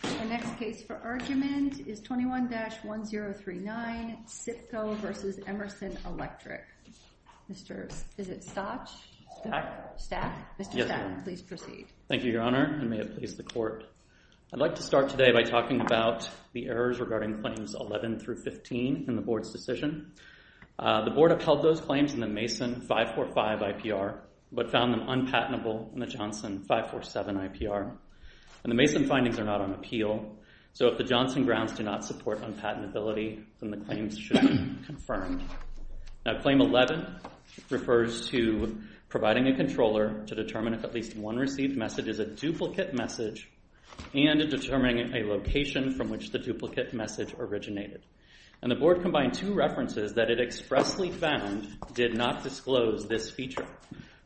The next case for argument is 21-1039, SIPCO v. Emerson Electric. Is it Stach? Yes, ma'am. Mr. Stach, please proceed. Thank you, Your Honor, and may it please the Court. I'd like to start today by talking about the errors regarding claims 11-15 in the Board's decision. The Board upheld those claims in the Mason 545 IPR, but found them unpatentable in the Johnson 547 IPR. The Mason findings are not on appeal, so if the Johnson grounds do not support unpatentability, then the claims should be confirmed. Claim 11 refers to providing a controller to determine if at least one received message is a duplicate message and determining a location from which the duplicate message originated. The Board combined two references that it expressly found did not disclose this feature.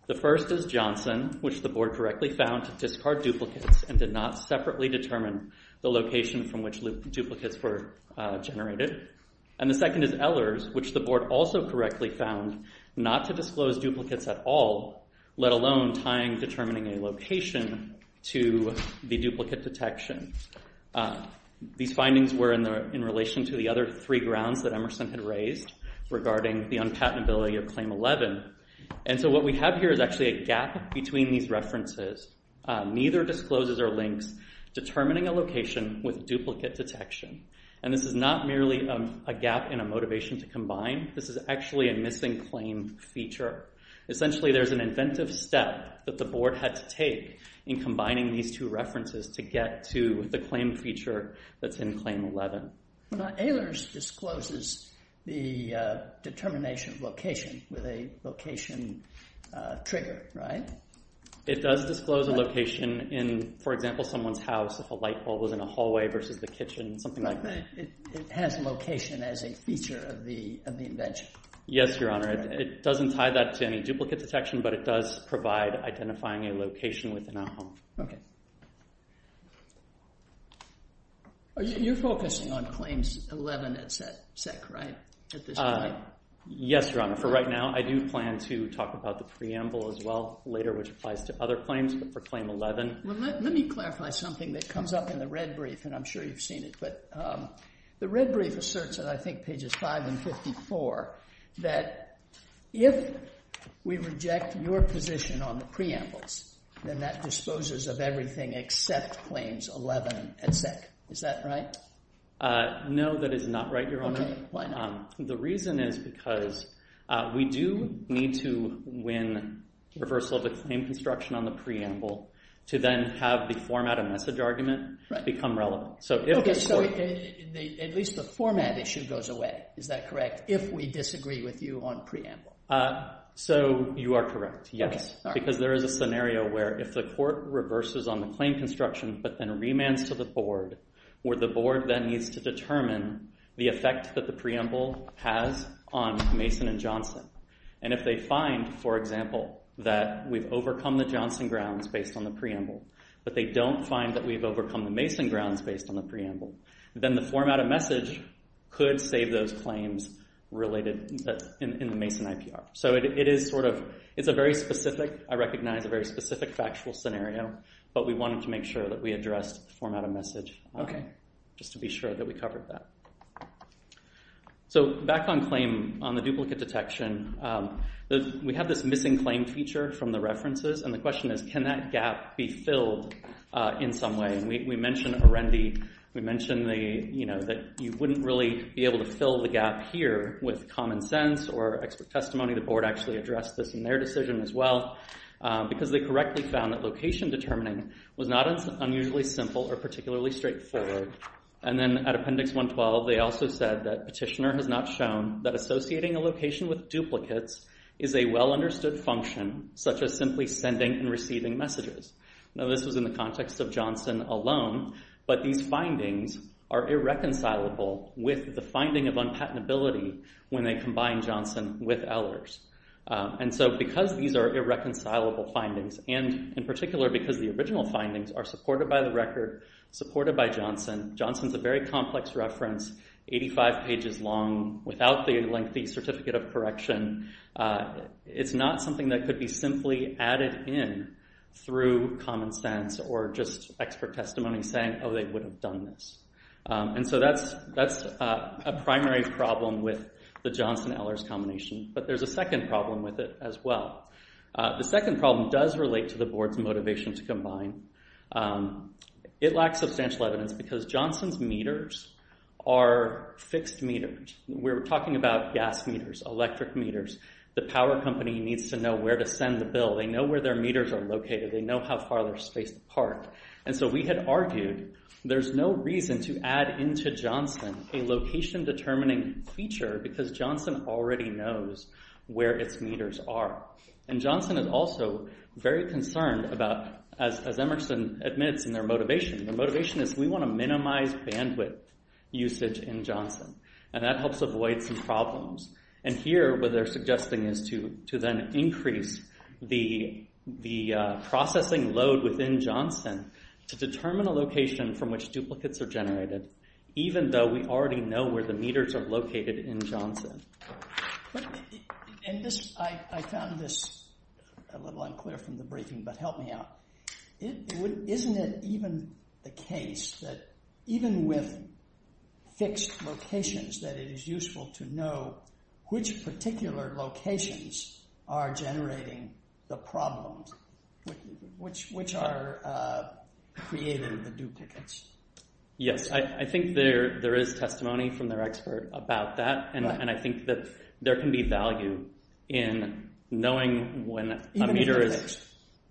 The first is Johnson, which the Board correctly found to discard duplicates and did not separately determine the location from which duplicates were generated. And the second is Ehlers, which the Board also correctly found not to disclose duplicates at all, let alone tying determining a location to the duplicate detection. These findings were in relation to the other three grounds that Emerson had raised regarding the unpatentability of Claim 11. And so what we have here is actually a gap between these references. Neither discloses or links determining a location with duplicate detection. And this is not merely a gap in a motivation to combine. This is actually a missing claim feature. Essentially, there's an inventive step that the Board had to take in combining these two references to get to the claim feature that's in Claim 11. Well, now Ehlers discloses the determination of location with a location trigger, right? It does disclose a location in, for example, someone's house if a light bulb was in a hallway versus the kitchen, something like that. It has location as a feature of the invention. Yes, Your Honor. It doesn't tie that to any duplicate detection, but it does provide identifying a location within a home. Okay. You're focusing on Claims 11 at SEC, right? Yes, Your Honor. For right now, I do plan to talk about the preamble as well later, which applies to other claims, but for Claim 11. Let me clarify something that comes up in the red brief, and I'm sure you've seen it, but the red brief asserts that I think pages 5 and 54, that if we reject your position on the preambles, then that disposes of everything except Claims 11 at SEC. Is that right? No, that is not right, Your Honor. Why not? The reason is because we do need to win reversal of the claim construction on the preamble to then have the format and message argument become relevant. Okay, so at least the format issue goes away. Is that correct? If we disagree with you on preamble. So, you are correct, yes. Because there is a scenario where if the court reverses on the claim construction, but then remands to the board, where the board then needs to determine the effect that the preamble has on Mason and Johnson, and if they find, for example, that we've overcome the Johnson grounds based on the preamble, but they don't find that we've overcome the Mason grounds based on the preamble, then the format and message could save those claims related in the Mason IPR. So, it is sort of, it's a very specific, I recognize a very specific factual scenario, but we wanted to make sure that we addressed the format and message. Okay. Just to be sure that we covered that. So, back on claim, on the duplicate detection, we have this missing claim feature from the references, and the question is can that gap be filled in some way? And we mentioned Arendi, we mentioned that you wouldn't really be able to fill the gap here with common sense or expert testimony. The board actually addressed this in their decision as well, because they correctly found that location determining was not unusually simple or particularly straightforward. And then at appendix 112, they also said that petitioner has not shown that associating a location with duplicates is a well-understood function, such as simply sending and receiving messages. Now, this was in the context of Johnson alone, but these findings are irreconcilable with the finding of unpatentability when they combine Johnson with Ehlers. And so, because these are irreconcilable findings, and in particular because the original findings are supported by the record, supported by Johnson, Johnson's a very complex reference, 85 pages long, without the lengthy certificate of correction. It's not something that could be simply added in through common sense or just expert testimony saying, oh, they would have done this. And so that's a primary problem with the Johnson-Ehlers combination, but there's a second problem with it as well. The second problem does relate to the board's motivation to combine. It lacks substantial evidence because Johnson's meters are fixed meters. We're talking about gas meters, electric meters. The power company needs to know where to send the bill. They know where their meters are located. They know how far they're spaced apart. And so we had argued there's no reason to add into Johnson a location-determining feature because Johnson already knows where its meters are. And Johnson is also very concerned about, as Emerson admits in their motivation, their motivation is we want to minimize bandwidth usage in Johnson. And that helps avoid some problems. And here what they're suggesting is to then increase the processing load within Johnson to determine a location from which duplicates are generated even though we already know where the meters are located in Johnson. I found this a little unclear from the briefing, but help me out. Isn't it even the case that even with fixed locations that it is useful to know which particular locations are generating the problems which are creating the duplicates? Yes, I think there is testimony from their expert about that. And I think that there can be value in knowing when a meter is— Even if they're fixed.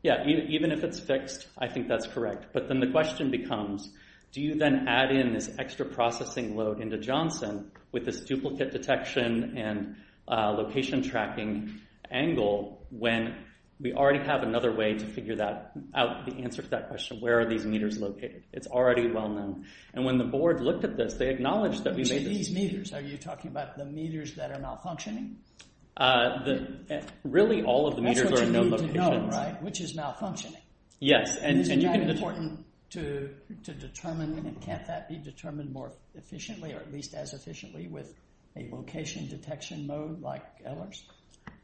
Yeah, even if it's fixed, I think that's correct. But then the question becomes, do you then add in this extra processing load into Johnson with this duplicate detection and location tracking angle when we already have another way to figure out the answer to that question, where are these meters located? It's already well known. And when the board looked at this, they acknowledged that we made this— These meters, are you talking about the meters that are malfunctioning? Really, all of the meters are in no locations. That's what you need to know, right, which is malfunctioning. Yes, and you can— Isn't that important to determine? Can't that be determined more efficiently or at least as efficiently with a location detection mode like Ehlers?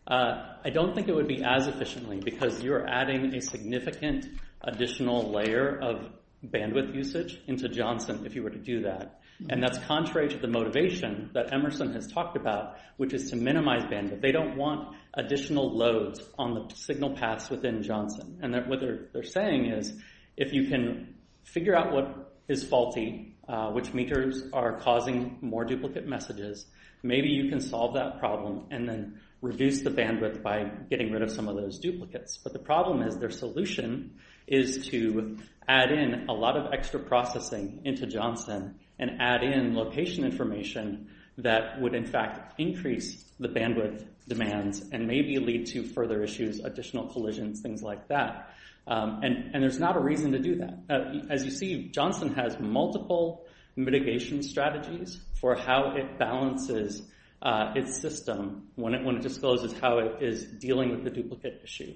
I don't think it would be as efficiently because you're adding a significant additional layer of bandwidth usage into Johnson if you were to do that. And that's contrary to the motivation that Emerson has talked about, which is to minimize bandwidth. They don't want additional loads on the signal paths within Johnson. And what they're saying is if you can figure out what is faulty, which meters are causing more duplicate messages, maybe you can solve that problem and then reduce the bandwidth by getting rid of some of those duplicates. But the problem is their solution is to add in a lot of extra processing into Johnson and add in location information that would in fact increase the bandwidth demands and maybe lead to further issues, additional collisions, things like that. And there's not a reason to do that. As you see, Johnson has multiple mitigation strategies for how it balances its system when it discloses how it is dealing with the duplicate issue.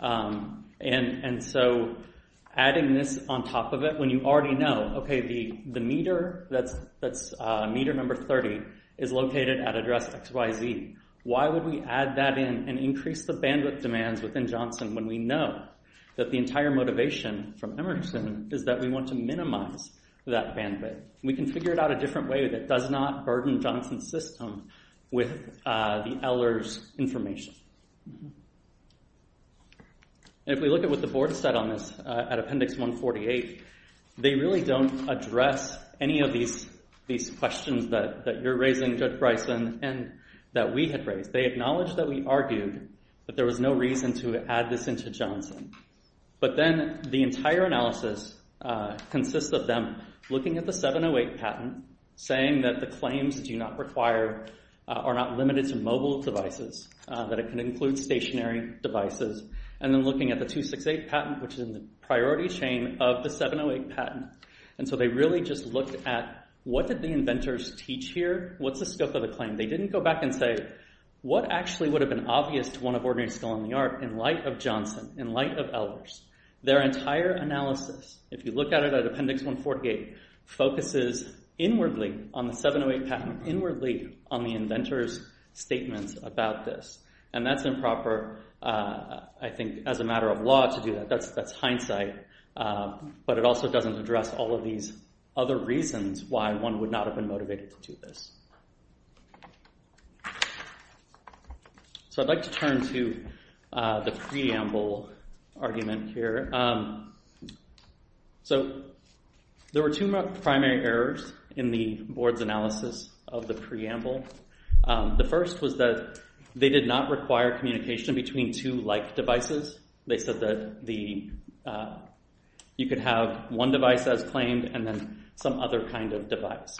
And so adding this on top of it when you already know, okay, the meter that's meter number 30 is located at address XYZ. Why would we add that in and increase the bandwidth demands within Johnson when we know that the entire motivation from Emerson is that we want to minimize that bandwidth? We can figure it out a different way that does not burden Johnson's system with the Ehlers information. If we look at what the board said on this at appendix 148, they really don't address any of these questions that you're raising, Judge Bryson, and that we had raised. They acknowledged that we argued that there was no reason to add this into Johnson. But then the entire analysis consists of them looking at the 708 patent, saying that the claims do not require or are not limited to mobile devices, that it can include stationary devices, and then looking at the 268 patent, which is in the priority chain of the 708 patent. And so they really just looked at what did the inventors teach here? What's the scope of the claim? They didn't go back and say, what actually would have been obvious to one of ordinary skill in the art in light of Johnson, in light of Ehlers? Their entire analysis, if you look at it at appendix 148, focuses inwardly on the 708 patent, inwardly on the inventor's statements about this. And that's improper, I think, as a matter of law to do that. That's hindsight. But it also doesn't address all of these other reasons why one would not have been motivated to do this. So I'd like to turn to the preamble argument here. So there were two primary errors in the board's analysis of the preamble. The first was that they did not require communication between two like devices. They said that you could have one device as claimed, and then some other kind of device.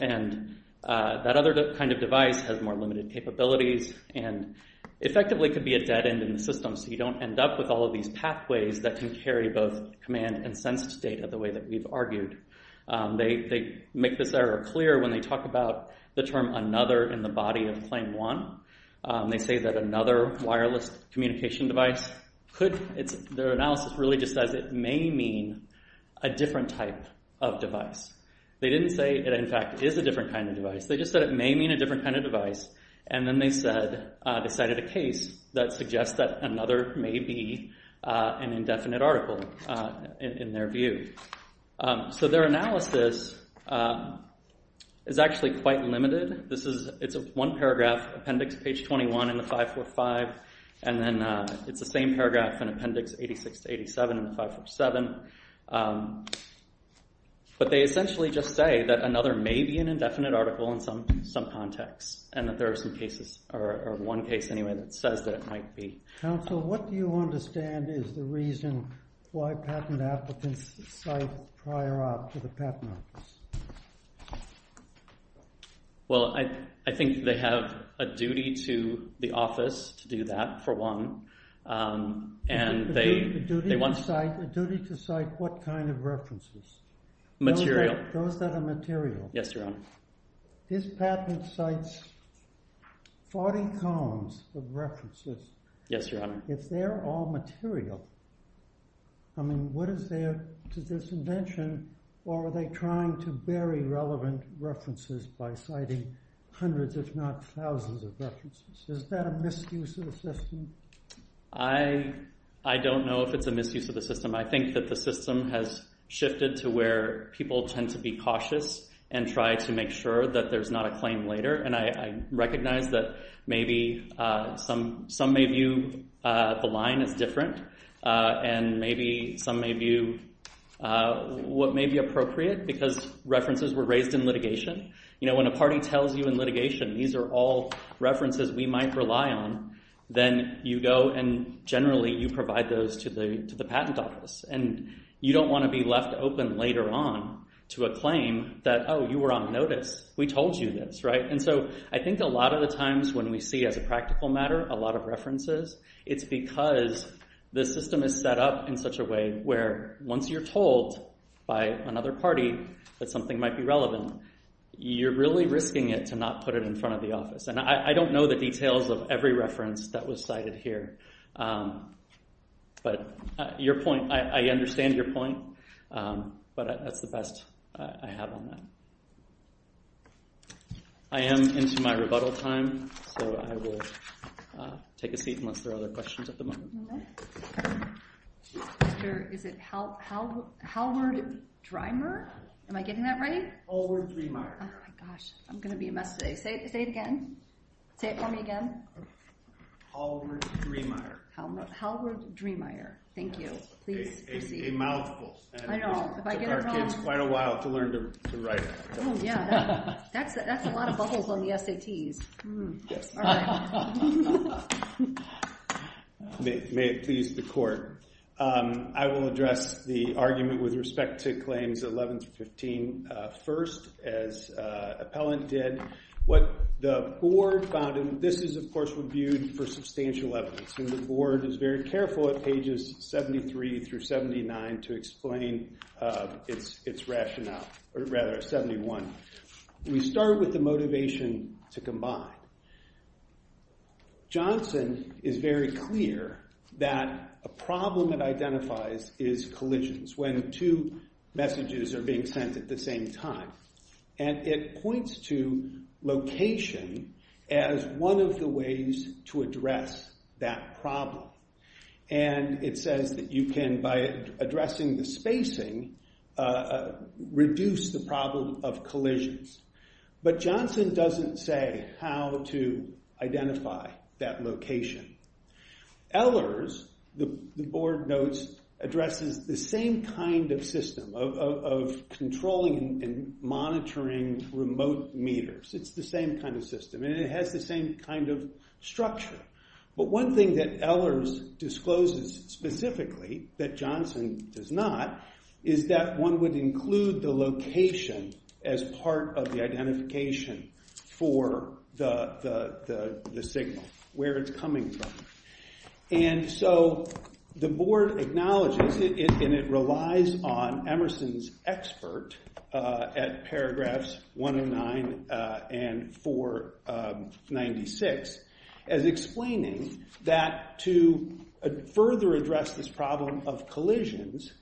And that other kind of device has more limited capabilities and effectively could be a dead end in the system, so you don't end up with all of these pathways that can carry both command and sense data, the way that we've argued. They make this error clear when they talk about the term another in the body of claim one. They say that another wireless communication device could... Their analysis really just says it may mean a different type of device. They didn't say it, in fact, is a different kind of device. They just said it may mean a different kind of device. And then they cited a case that suggests that another may be an indefinite article, in their view. So their analysis is actually quite limited. It's one paragraph, appendix page 21 in the 545, and then it's the same paragraph in appendix 86 to 87 in the 547. But they essentially just say that another may be an indefinite article in some context, and that there are some cases, or one case anyway, that says that it might be. Counsel, what do you understand is the reason why patent applicants cite prior op to the patent office? Well, I think they have a duty to the office to do that, for one. A duty to cite what kind of references? Material. Those that are material. His patent cites 40 columns of references. Yes, Your Honor. If they're all material, I mean, what is there to this invention? Or are they trying to bury relevant references by citing hundreds, if not thousands, of references? Is that a misuse of the system? I don't know if it's a misuse of the system. I think that the system has shifted to where people tend to be cautious and try to make sure that there's not a claim later. And I recognize that maybe some may view the line as different, and maybe some may view what may be appropriate, because references were raised in litigation. When a party tells you in litigation, these are all references we might rely on, then you go and generally you provide those to the patent office. And you don't want to be left open later on to a claim that, oh, you were on notice. We told you this, right? And so I think a lot of the times when we see, as a practical matter, a lot of references, it's because the system is set up in such a way where once you're told by another party that something might be relevant, you're really risking it to not put it in front of the office. And I don't know the details of every reference that was cited here. But I understand your point, but that's the best I have on that. I am into my rebuttal time, so I will take a seat unless there are other questions at the moment. Is it Halward-Dreimer? Am I getting that right? Halward-Dreimer. Oh my gosh, I'm going to be a mess today. Say it again. Say it for me again. Halward-Dreimer. Halward-Dreimer. Thank you. Please proceed. A mouthful. I know. It took our kids quite a while to learn to write. Oh, yeah. That's a lot of bubbles on the SATs. Yes. All right. May it please the Court, I will address the argument with respect to Claims 11-15. First, as Appellant did, what the Board found, and this is, of course, reviewed for substantial evidence, and the Board is very careful at pages 73 through 79 to explain its rationale, or rather, 71. We start with the motivation to combine. Johnson is very clear that a problem it identifies is collisions, when two messages are being sent at the same time, and it points to location as one of the ways to address that problem, and it says that you can, by addressing the spacing, reduce the problem of collisions. But Johnson doesn't say how to identify that location. Ehlers, the Board notes, addresses the same kind of system of controlling and monitoring remote meters. It's the same kind of system, and it has the same kind of structure. But one thing that Ehlers discloses specifically that Johnson does not is that one would include the location as part of the identification for the signal, where it's coming from. And so the Board acknowledges, and it relies on Emerson's expert at paragraphs 109 and 496, as explaining that to further address this problem of collisions,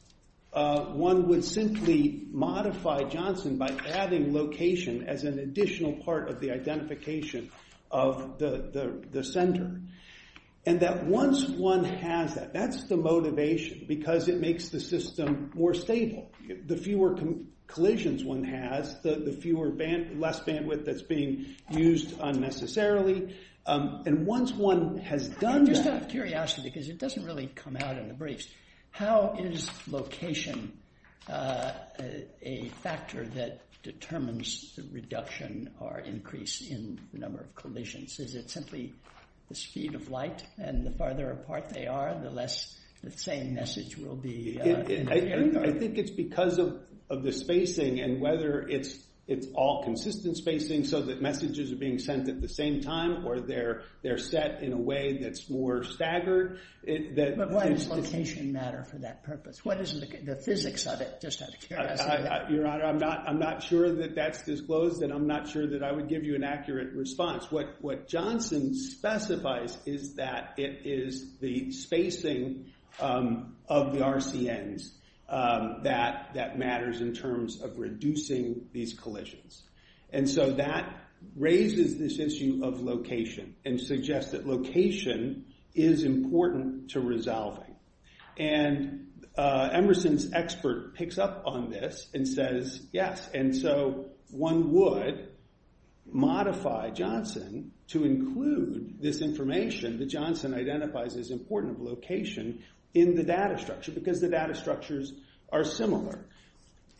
one would simply modify Johnson by adding location as an additional part of the identification of the center. And that once one has that, that's the motivation, because it makes the system more stable. The fewer collisions one has, the less bandwidth that's being used unnecessarily. And once one has done that... I'm just out of curiosity, because it doesn't really come out in the briefs. How is location a factor that determines the reduction or increase in the number of collisions? Is it simply the speed of light, and the farther apart they are, the less the same message will be in the area? I think it's because of the spacing, and whether it's all consistent spacing so that messages are being sent at the same time, or they're set in a way that's more staggered. But why does location matter for that purpose? What is the physics of it, just out of curiosity? Your Honor, I'm not sure that that's disclosed, and I'm not sure that I would give you an accurate response. What Johnson specifies is that it is the spacing of the RCNs that matters in terms of reducing these collisions. And so that raises this issue of location, and suggests that location is important to resolving. And Emerson's expert picks up on this and says, yes, and so one would modify Johnson to include this information that Johnson identifies as important of location in the data structure, because the data structures are similar.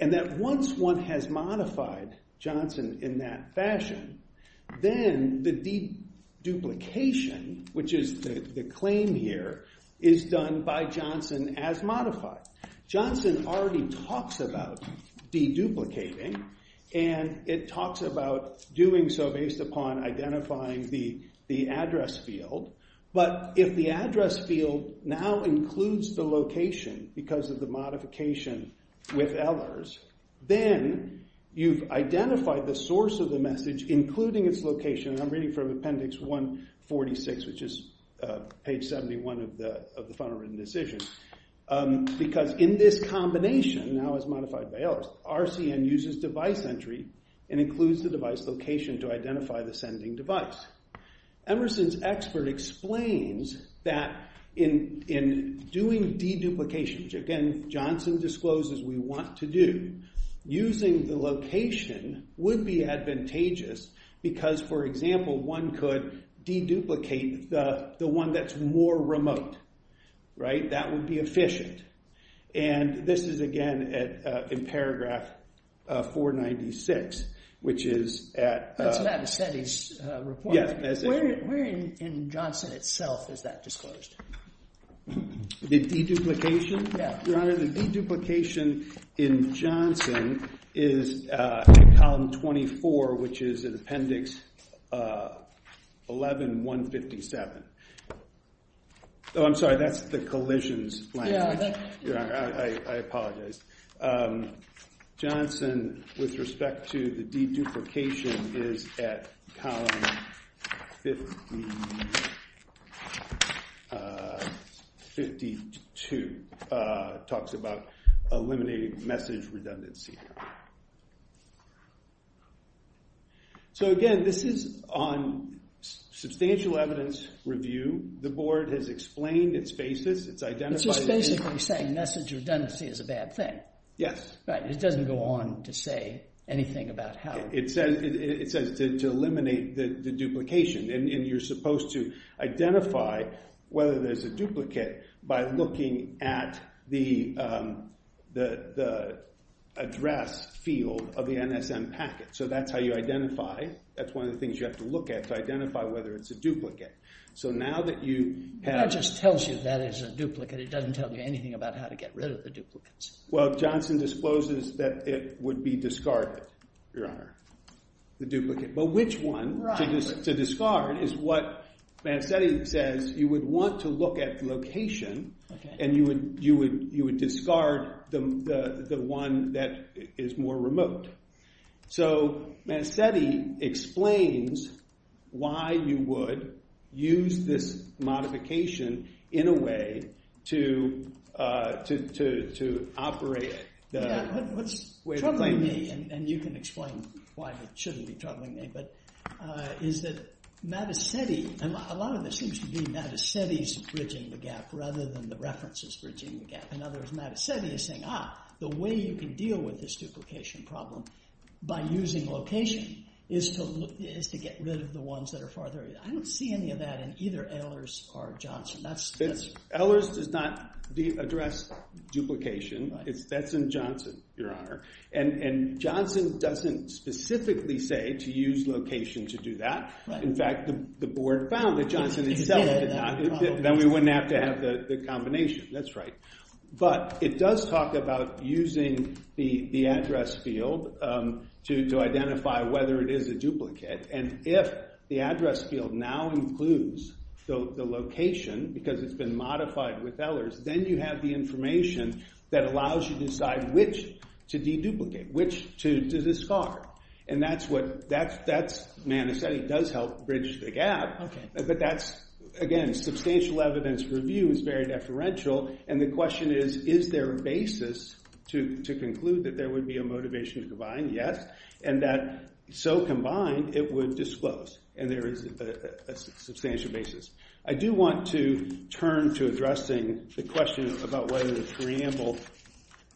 And that once one has modified Johnson in that fashion, then the deduplication, which is the claim here, is done by Johnson as modified. Johnson already talks about deduplicating, and it talks about doing so based upon identifying the address field. But if the address field now includes the location, because of the modification with Ehlers, then you've identified the source of the message, including its location, and I'm reading from appendix 146, which is page 71 of the final written decision, because in this combination, now as modified by Ehlers, RCN uses device entry and includes the device location to identify the sending device. Emerson's expert explains that in doing deduplication, which again, Johnson discloses we want to do, using the location would be advantageous, because, for example, one could deduplicate the one that's more remote. That would be efficient. And this is, again, in paragraph 496, which is at... That's what I said in his report. Yes. Where in Johnson itself is that disclosed? The deduplication? Yeah. Your Honor, the deduplication in Johnson is in column 24, which is in appendix 11-157. I'm sorry, that's the collisions language. Your Honor, I apologize. Johnson, with respect to the deduplication, is at column 52. It talks about eliminating message redundancy. So, again, this is on substantial evidence review. The Board has explained its basis. It's identified... It's just basically saying message redundancy is a bad thing. Yes. Right. It doesn't go on to say anything about how... It says to eliminate the duplication. And you're supposed to identify whether there's a duplicate by looking at the address field of the NSM packet. So that's how you identify. That's one of the things you have to look at to identify whether it's a duplicate. So now that you have... That just tells you that it's a duplicate. It doesn't tell you anything about how to get rid of the duplicates. Well, Johnson discloses that it would be discarded, Your Honor. The duplicate. But which one to discard is what Mancetti says. You would want to look at location, and you would discard the one that is more remote. So Mancetti explains why you would use this modification in a way to operate the... Yeah, what's troubling me, and you can explain why it shouldn't be troubling me, is that Mancetti... A lot of this seems to be Mancetti's bridging the gap rather than the references bridging the gap. In other words, Mancetti is saying, ah, the way you can deal with this duplication problem by using location is to get rid of the ones that are farther... I don't see any of that in either Ehlers or Johnson. Ehlers does not address duplication. That's in Johnson, Your Honor. And Johnson doesn't specifically say to use location to do that. In fact, the board found that Johnson itself did not. Then we wouldn't have to have the combination. That's right. But it does talk about using the address field to identify whether it is a duplicate, and if the address field now includes the location because it's been modified with Ehlers, then you have the information that allows you to decide which to deduplicate, which to discard. And that's what... Mancetti does help bridge the gap, but that's, again, substantial evidence review is very deferential, and the question is, is there a basis to conclude that there would be a motivation to combine? Yes. And that so combined, it would disclose, and there is a substantial basis. I do want to turn to addressing the question about whether the preamble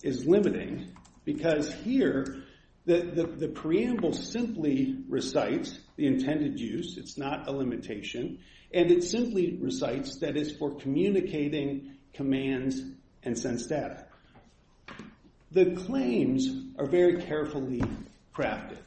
is limiting because here the preamble simply recites the intended use. It's not a limitation. And it simply recites that it's for communicating commands and sends data. The claims are very carefully crafted.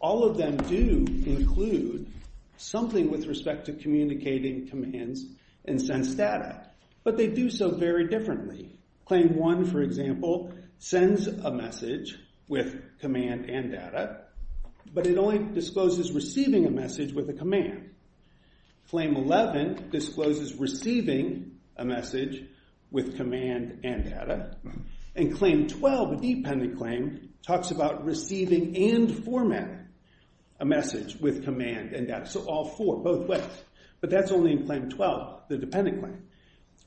All of them do include something with respect to communicating commands and sends data, but they do so very differently. Claim one, for example, sends a message with command and data, but it only discloses receiving a message with a command. Claim 11 discloses receiving a message with command and data. And claim 12, the dependent claim, talks about receiving and formatting a message with command and data. So all four, both ways. But that's only in claim 12, the dependent claim.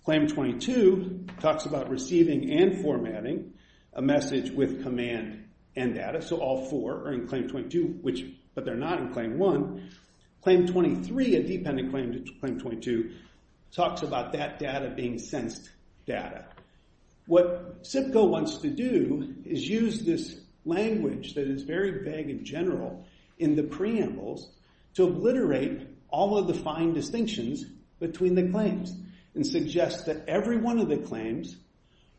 Claim 22 talks about receiving and formatting a message with command and data. So all four are in claim 22, but they're not in claim one. Claim 23, a dependent claim to claim 22, talks about that data being sensed data. What SIPCO wants to do is use this language that is very vague and general in the preambles to obliterate all of the fine distinctions between the claims and suggest that every one of the claims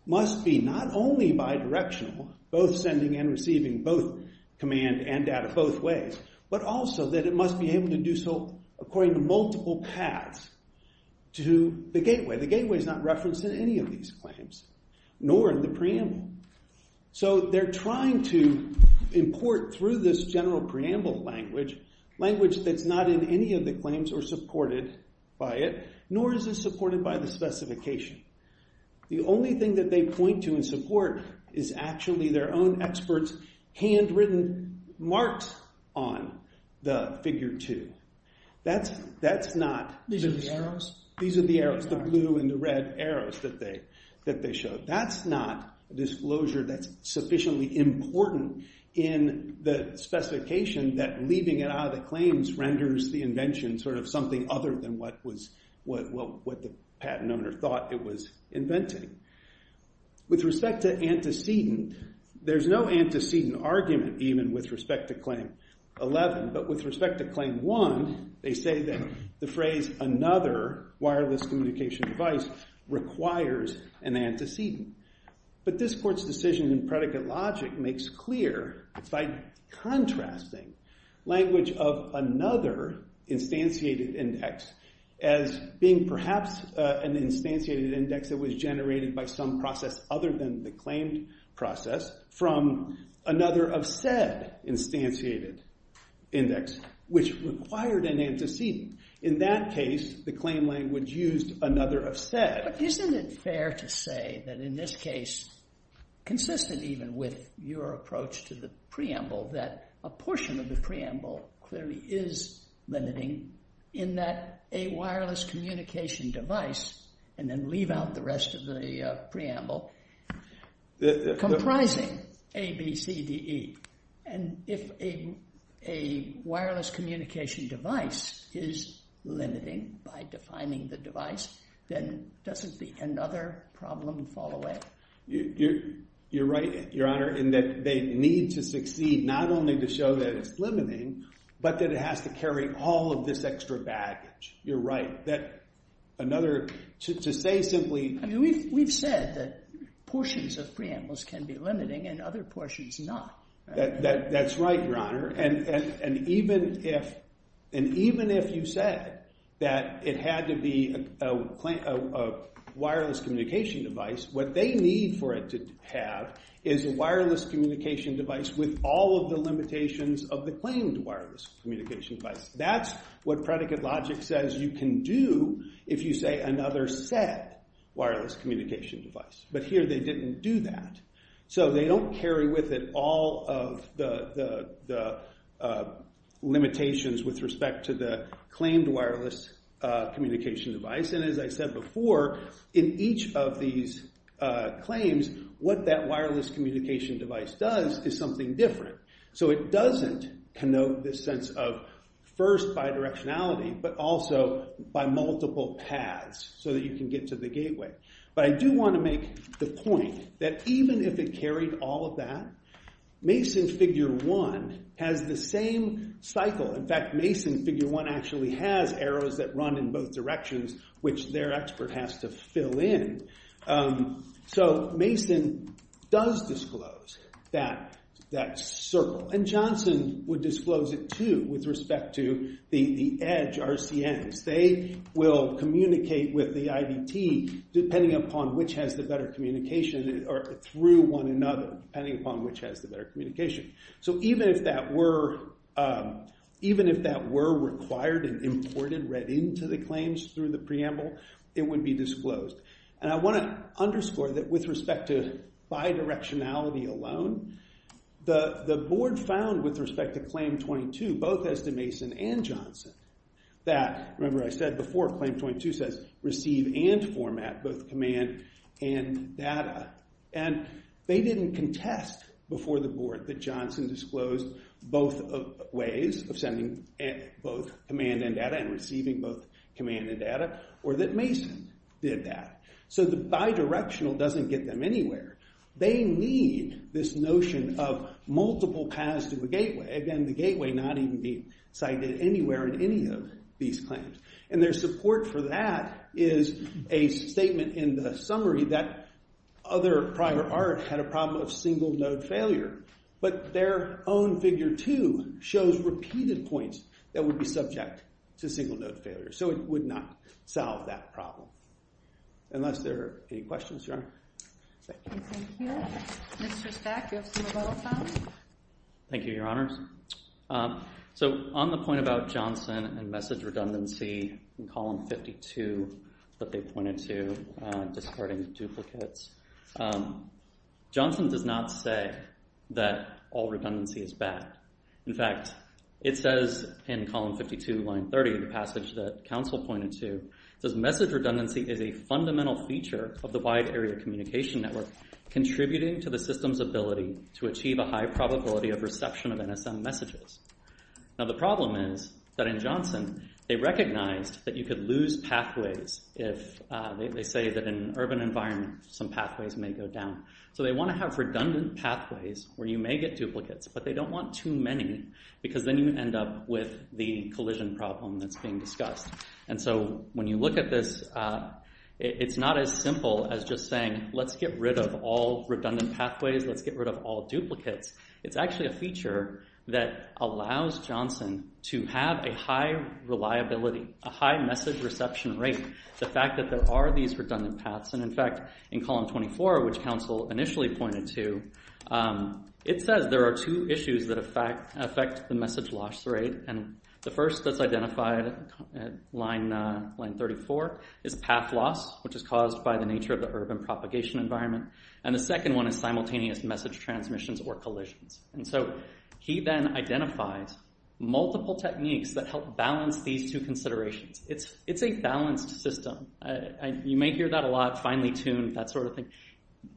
must be not only bidirectional, both sending and receiving both command and data both ways, but also that it must be able to do so according to multiple paths to the gateway. The gateway is not referenced in any of these claims, nor in the preamble. So they're trying to import, through this general preamble language, language that's not in any of the claims or supported by it, nor is it supported by the specification. The only thing that they point to in support is actually their own experts' handwritten marks on the figure 2. That's not... These are the arrows? These are the arrows, the blue and the red arrows that they showed. That's not a disclosure that's sufficiently important in the specification that leaving it out of the claims renders the invention sort of something other than what the patent owner thought it was inventing. With respect to antecedent, there's no antecedent argument even with respect to Claim 11, but with respect to Claim 1, they say that the phrase another wireless communication device requires an antecedent. But this court's decision in predicate logic makes clear, by contrasting language of another instantiated index as being perhaps an instantiated index that was generated by some process other than the claimed process from another of said instantiated index, which required an antecedent. In that case, the claim language used another of said. But isn't it fair to say that in this case, consistent even with your approach to the preamble, that a portion of the preamble clearly is limiting in that a wireless communication device and then leave out the rest of the preamble, comprising A, B, C, D, E. And if a wireless communication device is limiting by defining the device, then doesn't the another problem fall away? You're right, Your Honor, in that they need to succeed not only to show that it's limiting, but that it has to carry all of this extra baggage. You're right. To say simply... We've said that portions of preambles can be limiting and other portions not. That's right, Your Honor. And even if you said that it had to be a wireless communication device, what they need for it to have is a wireless communication device with all of the limitations of the claimed wireless communication device. That's what predicate logic says you can do if you say another said wireless communication device. But here they didn't do that. So they don't carry with it all of the limitations with respect to the claimed wireless communication device. And as I said before, in each of these claims, what that wireless communication device does is something different. So it doesn't connote this sense of first bidirectionality, but also by multiple paths so that you can get to the gateway. But I do want to make the point that even if it carried all of that, Mason figure one has the same cycle. In fact, Mason figure one actually has arrows that run in both directions, which their expert has to fill in. So Mason does disclose that circle. And Johnson would disclose it too with respect to the edge RCMs. They will communicate with the IDT depending upon which has the better communication through one another, depending upon which has the better communication. So even if that were required and imported right into the claims through the preamble, it would be disclosed. And I want to underscore that with respect to bidirectionality alone, the board found with respect to Claim 22, both as to Mason and Johnson, that, remember I said before, Claim 22 says receive and format both command and data. And they didn't contest before the board that Johnson disclosed both ways of sending both command and data and receiving both command and data, or that Mason did that. So the bidirectional doesn't get them anywhere. They need this notion of multiple paths to a gateway. Again, the gateway not even being cited anywhere in any of these claims. And their support for that is a statement in the summary that other prior art had a problem of single-node failure. But their own Figure 2 shows repeated points that would be subject to single-node failure. So it would not solve that problem. Unless there are any questions, Your Honor. Thank you. Thank you. Mr. Speck, you have some of our time. Thank you, Your Honors. So on the point about Johnson and message redundancy in Column 52 that they pointed to, discarding duplicates, Johnson does not say that all redundancy is bad. In fact, it says in Column 52, Line 30, the passage that counsel pointed to, it says, Message redundancy is a fundamental feature of the wide-area communication network contributing to the system's ability to achieve a high probability of reception of NSM messages. Now, the problem is that in Johnson, they recognized that you could lose pathways if they say that in an urban environment, some pathways may go down. So they want to have redundant pathways where you may get duplicates, but they don't want too many because then you end up with the collision problem that's being discussed. And so when you look at this, it's not as simple as just saying, let's get rid of all redundant pathways, let's get rid of all duplicates. It's actually a feature that allows Johnson to have a high reliability, a high message reception rate. The fact that there are these redundant paths, and in fact, in Column 24, which counsel initially pointed to, it says there are two issues that affect the message loss rate. And the first that's identified at line 34 is path loss, which is caused by the nature of the urban propagation environment. And the second one is simultaneous message transmissions or collisions. And so he then identifies multiple techniques that help balance these two considerations. It's a balanced system. You may hear that a lot, finely tuned, that sort of thing.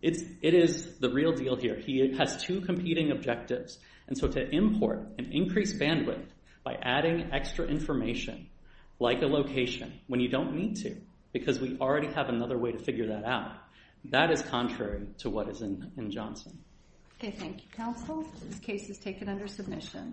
It is the real deal here. He has two competing objectives. And so to import an increased bandwidth by adding extra information, like a location, when you don't need to, because we already have another way to figure that out, that is contrary to what is in Johnson. Okay, thank you, counsel. This case is taken under submission.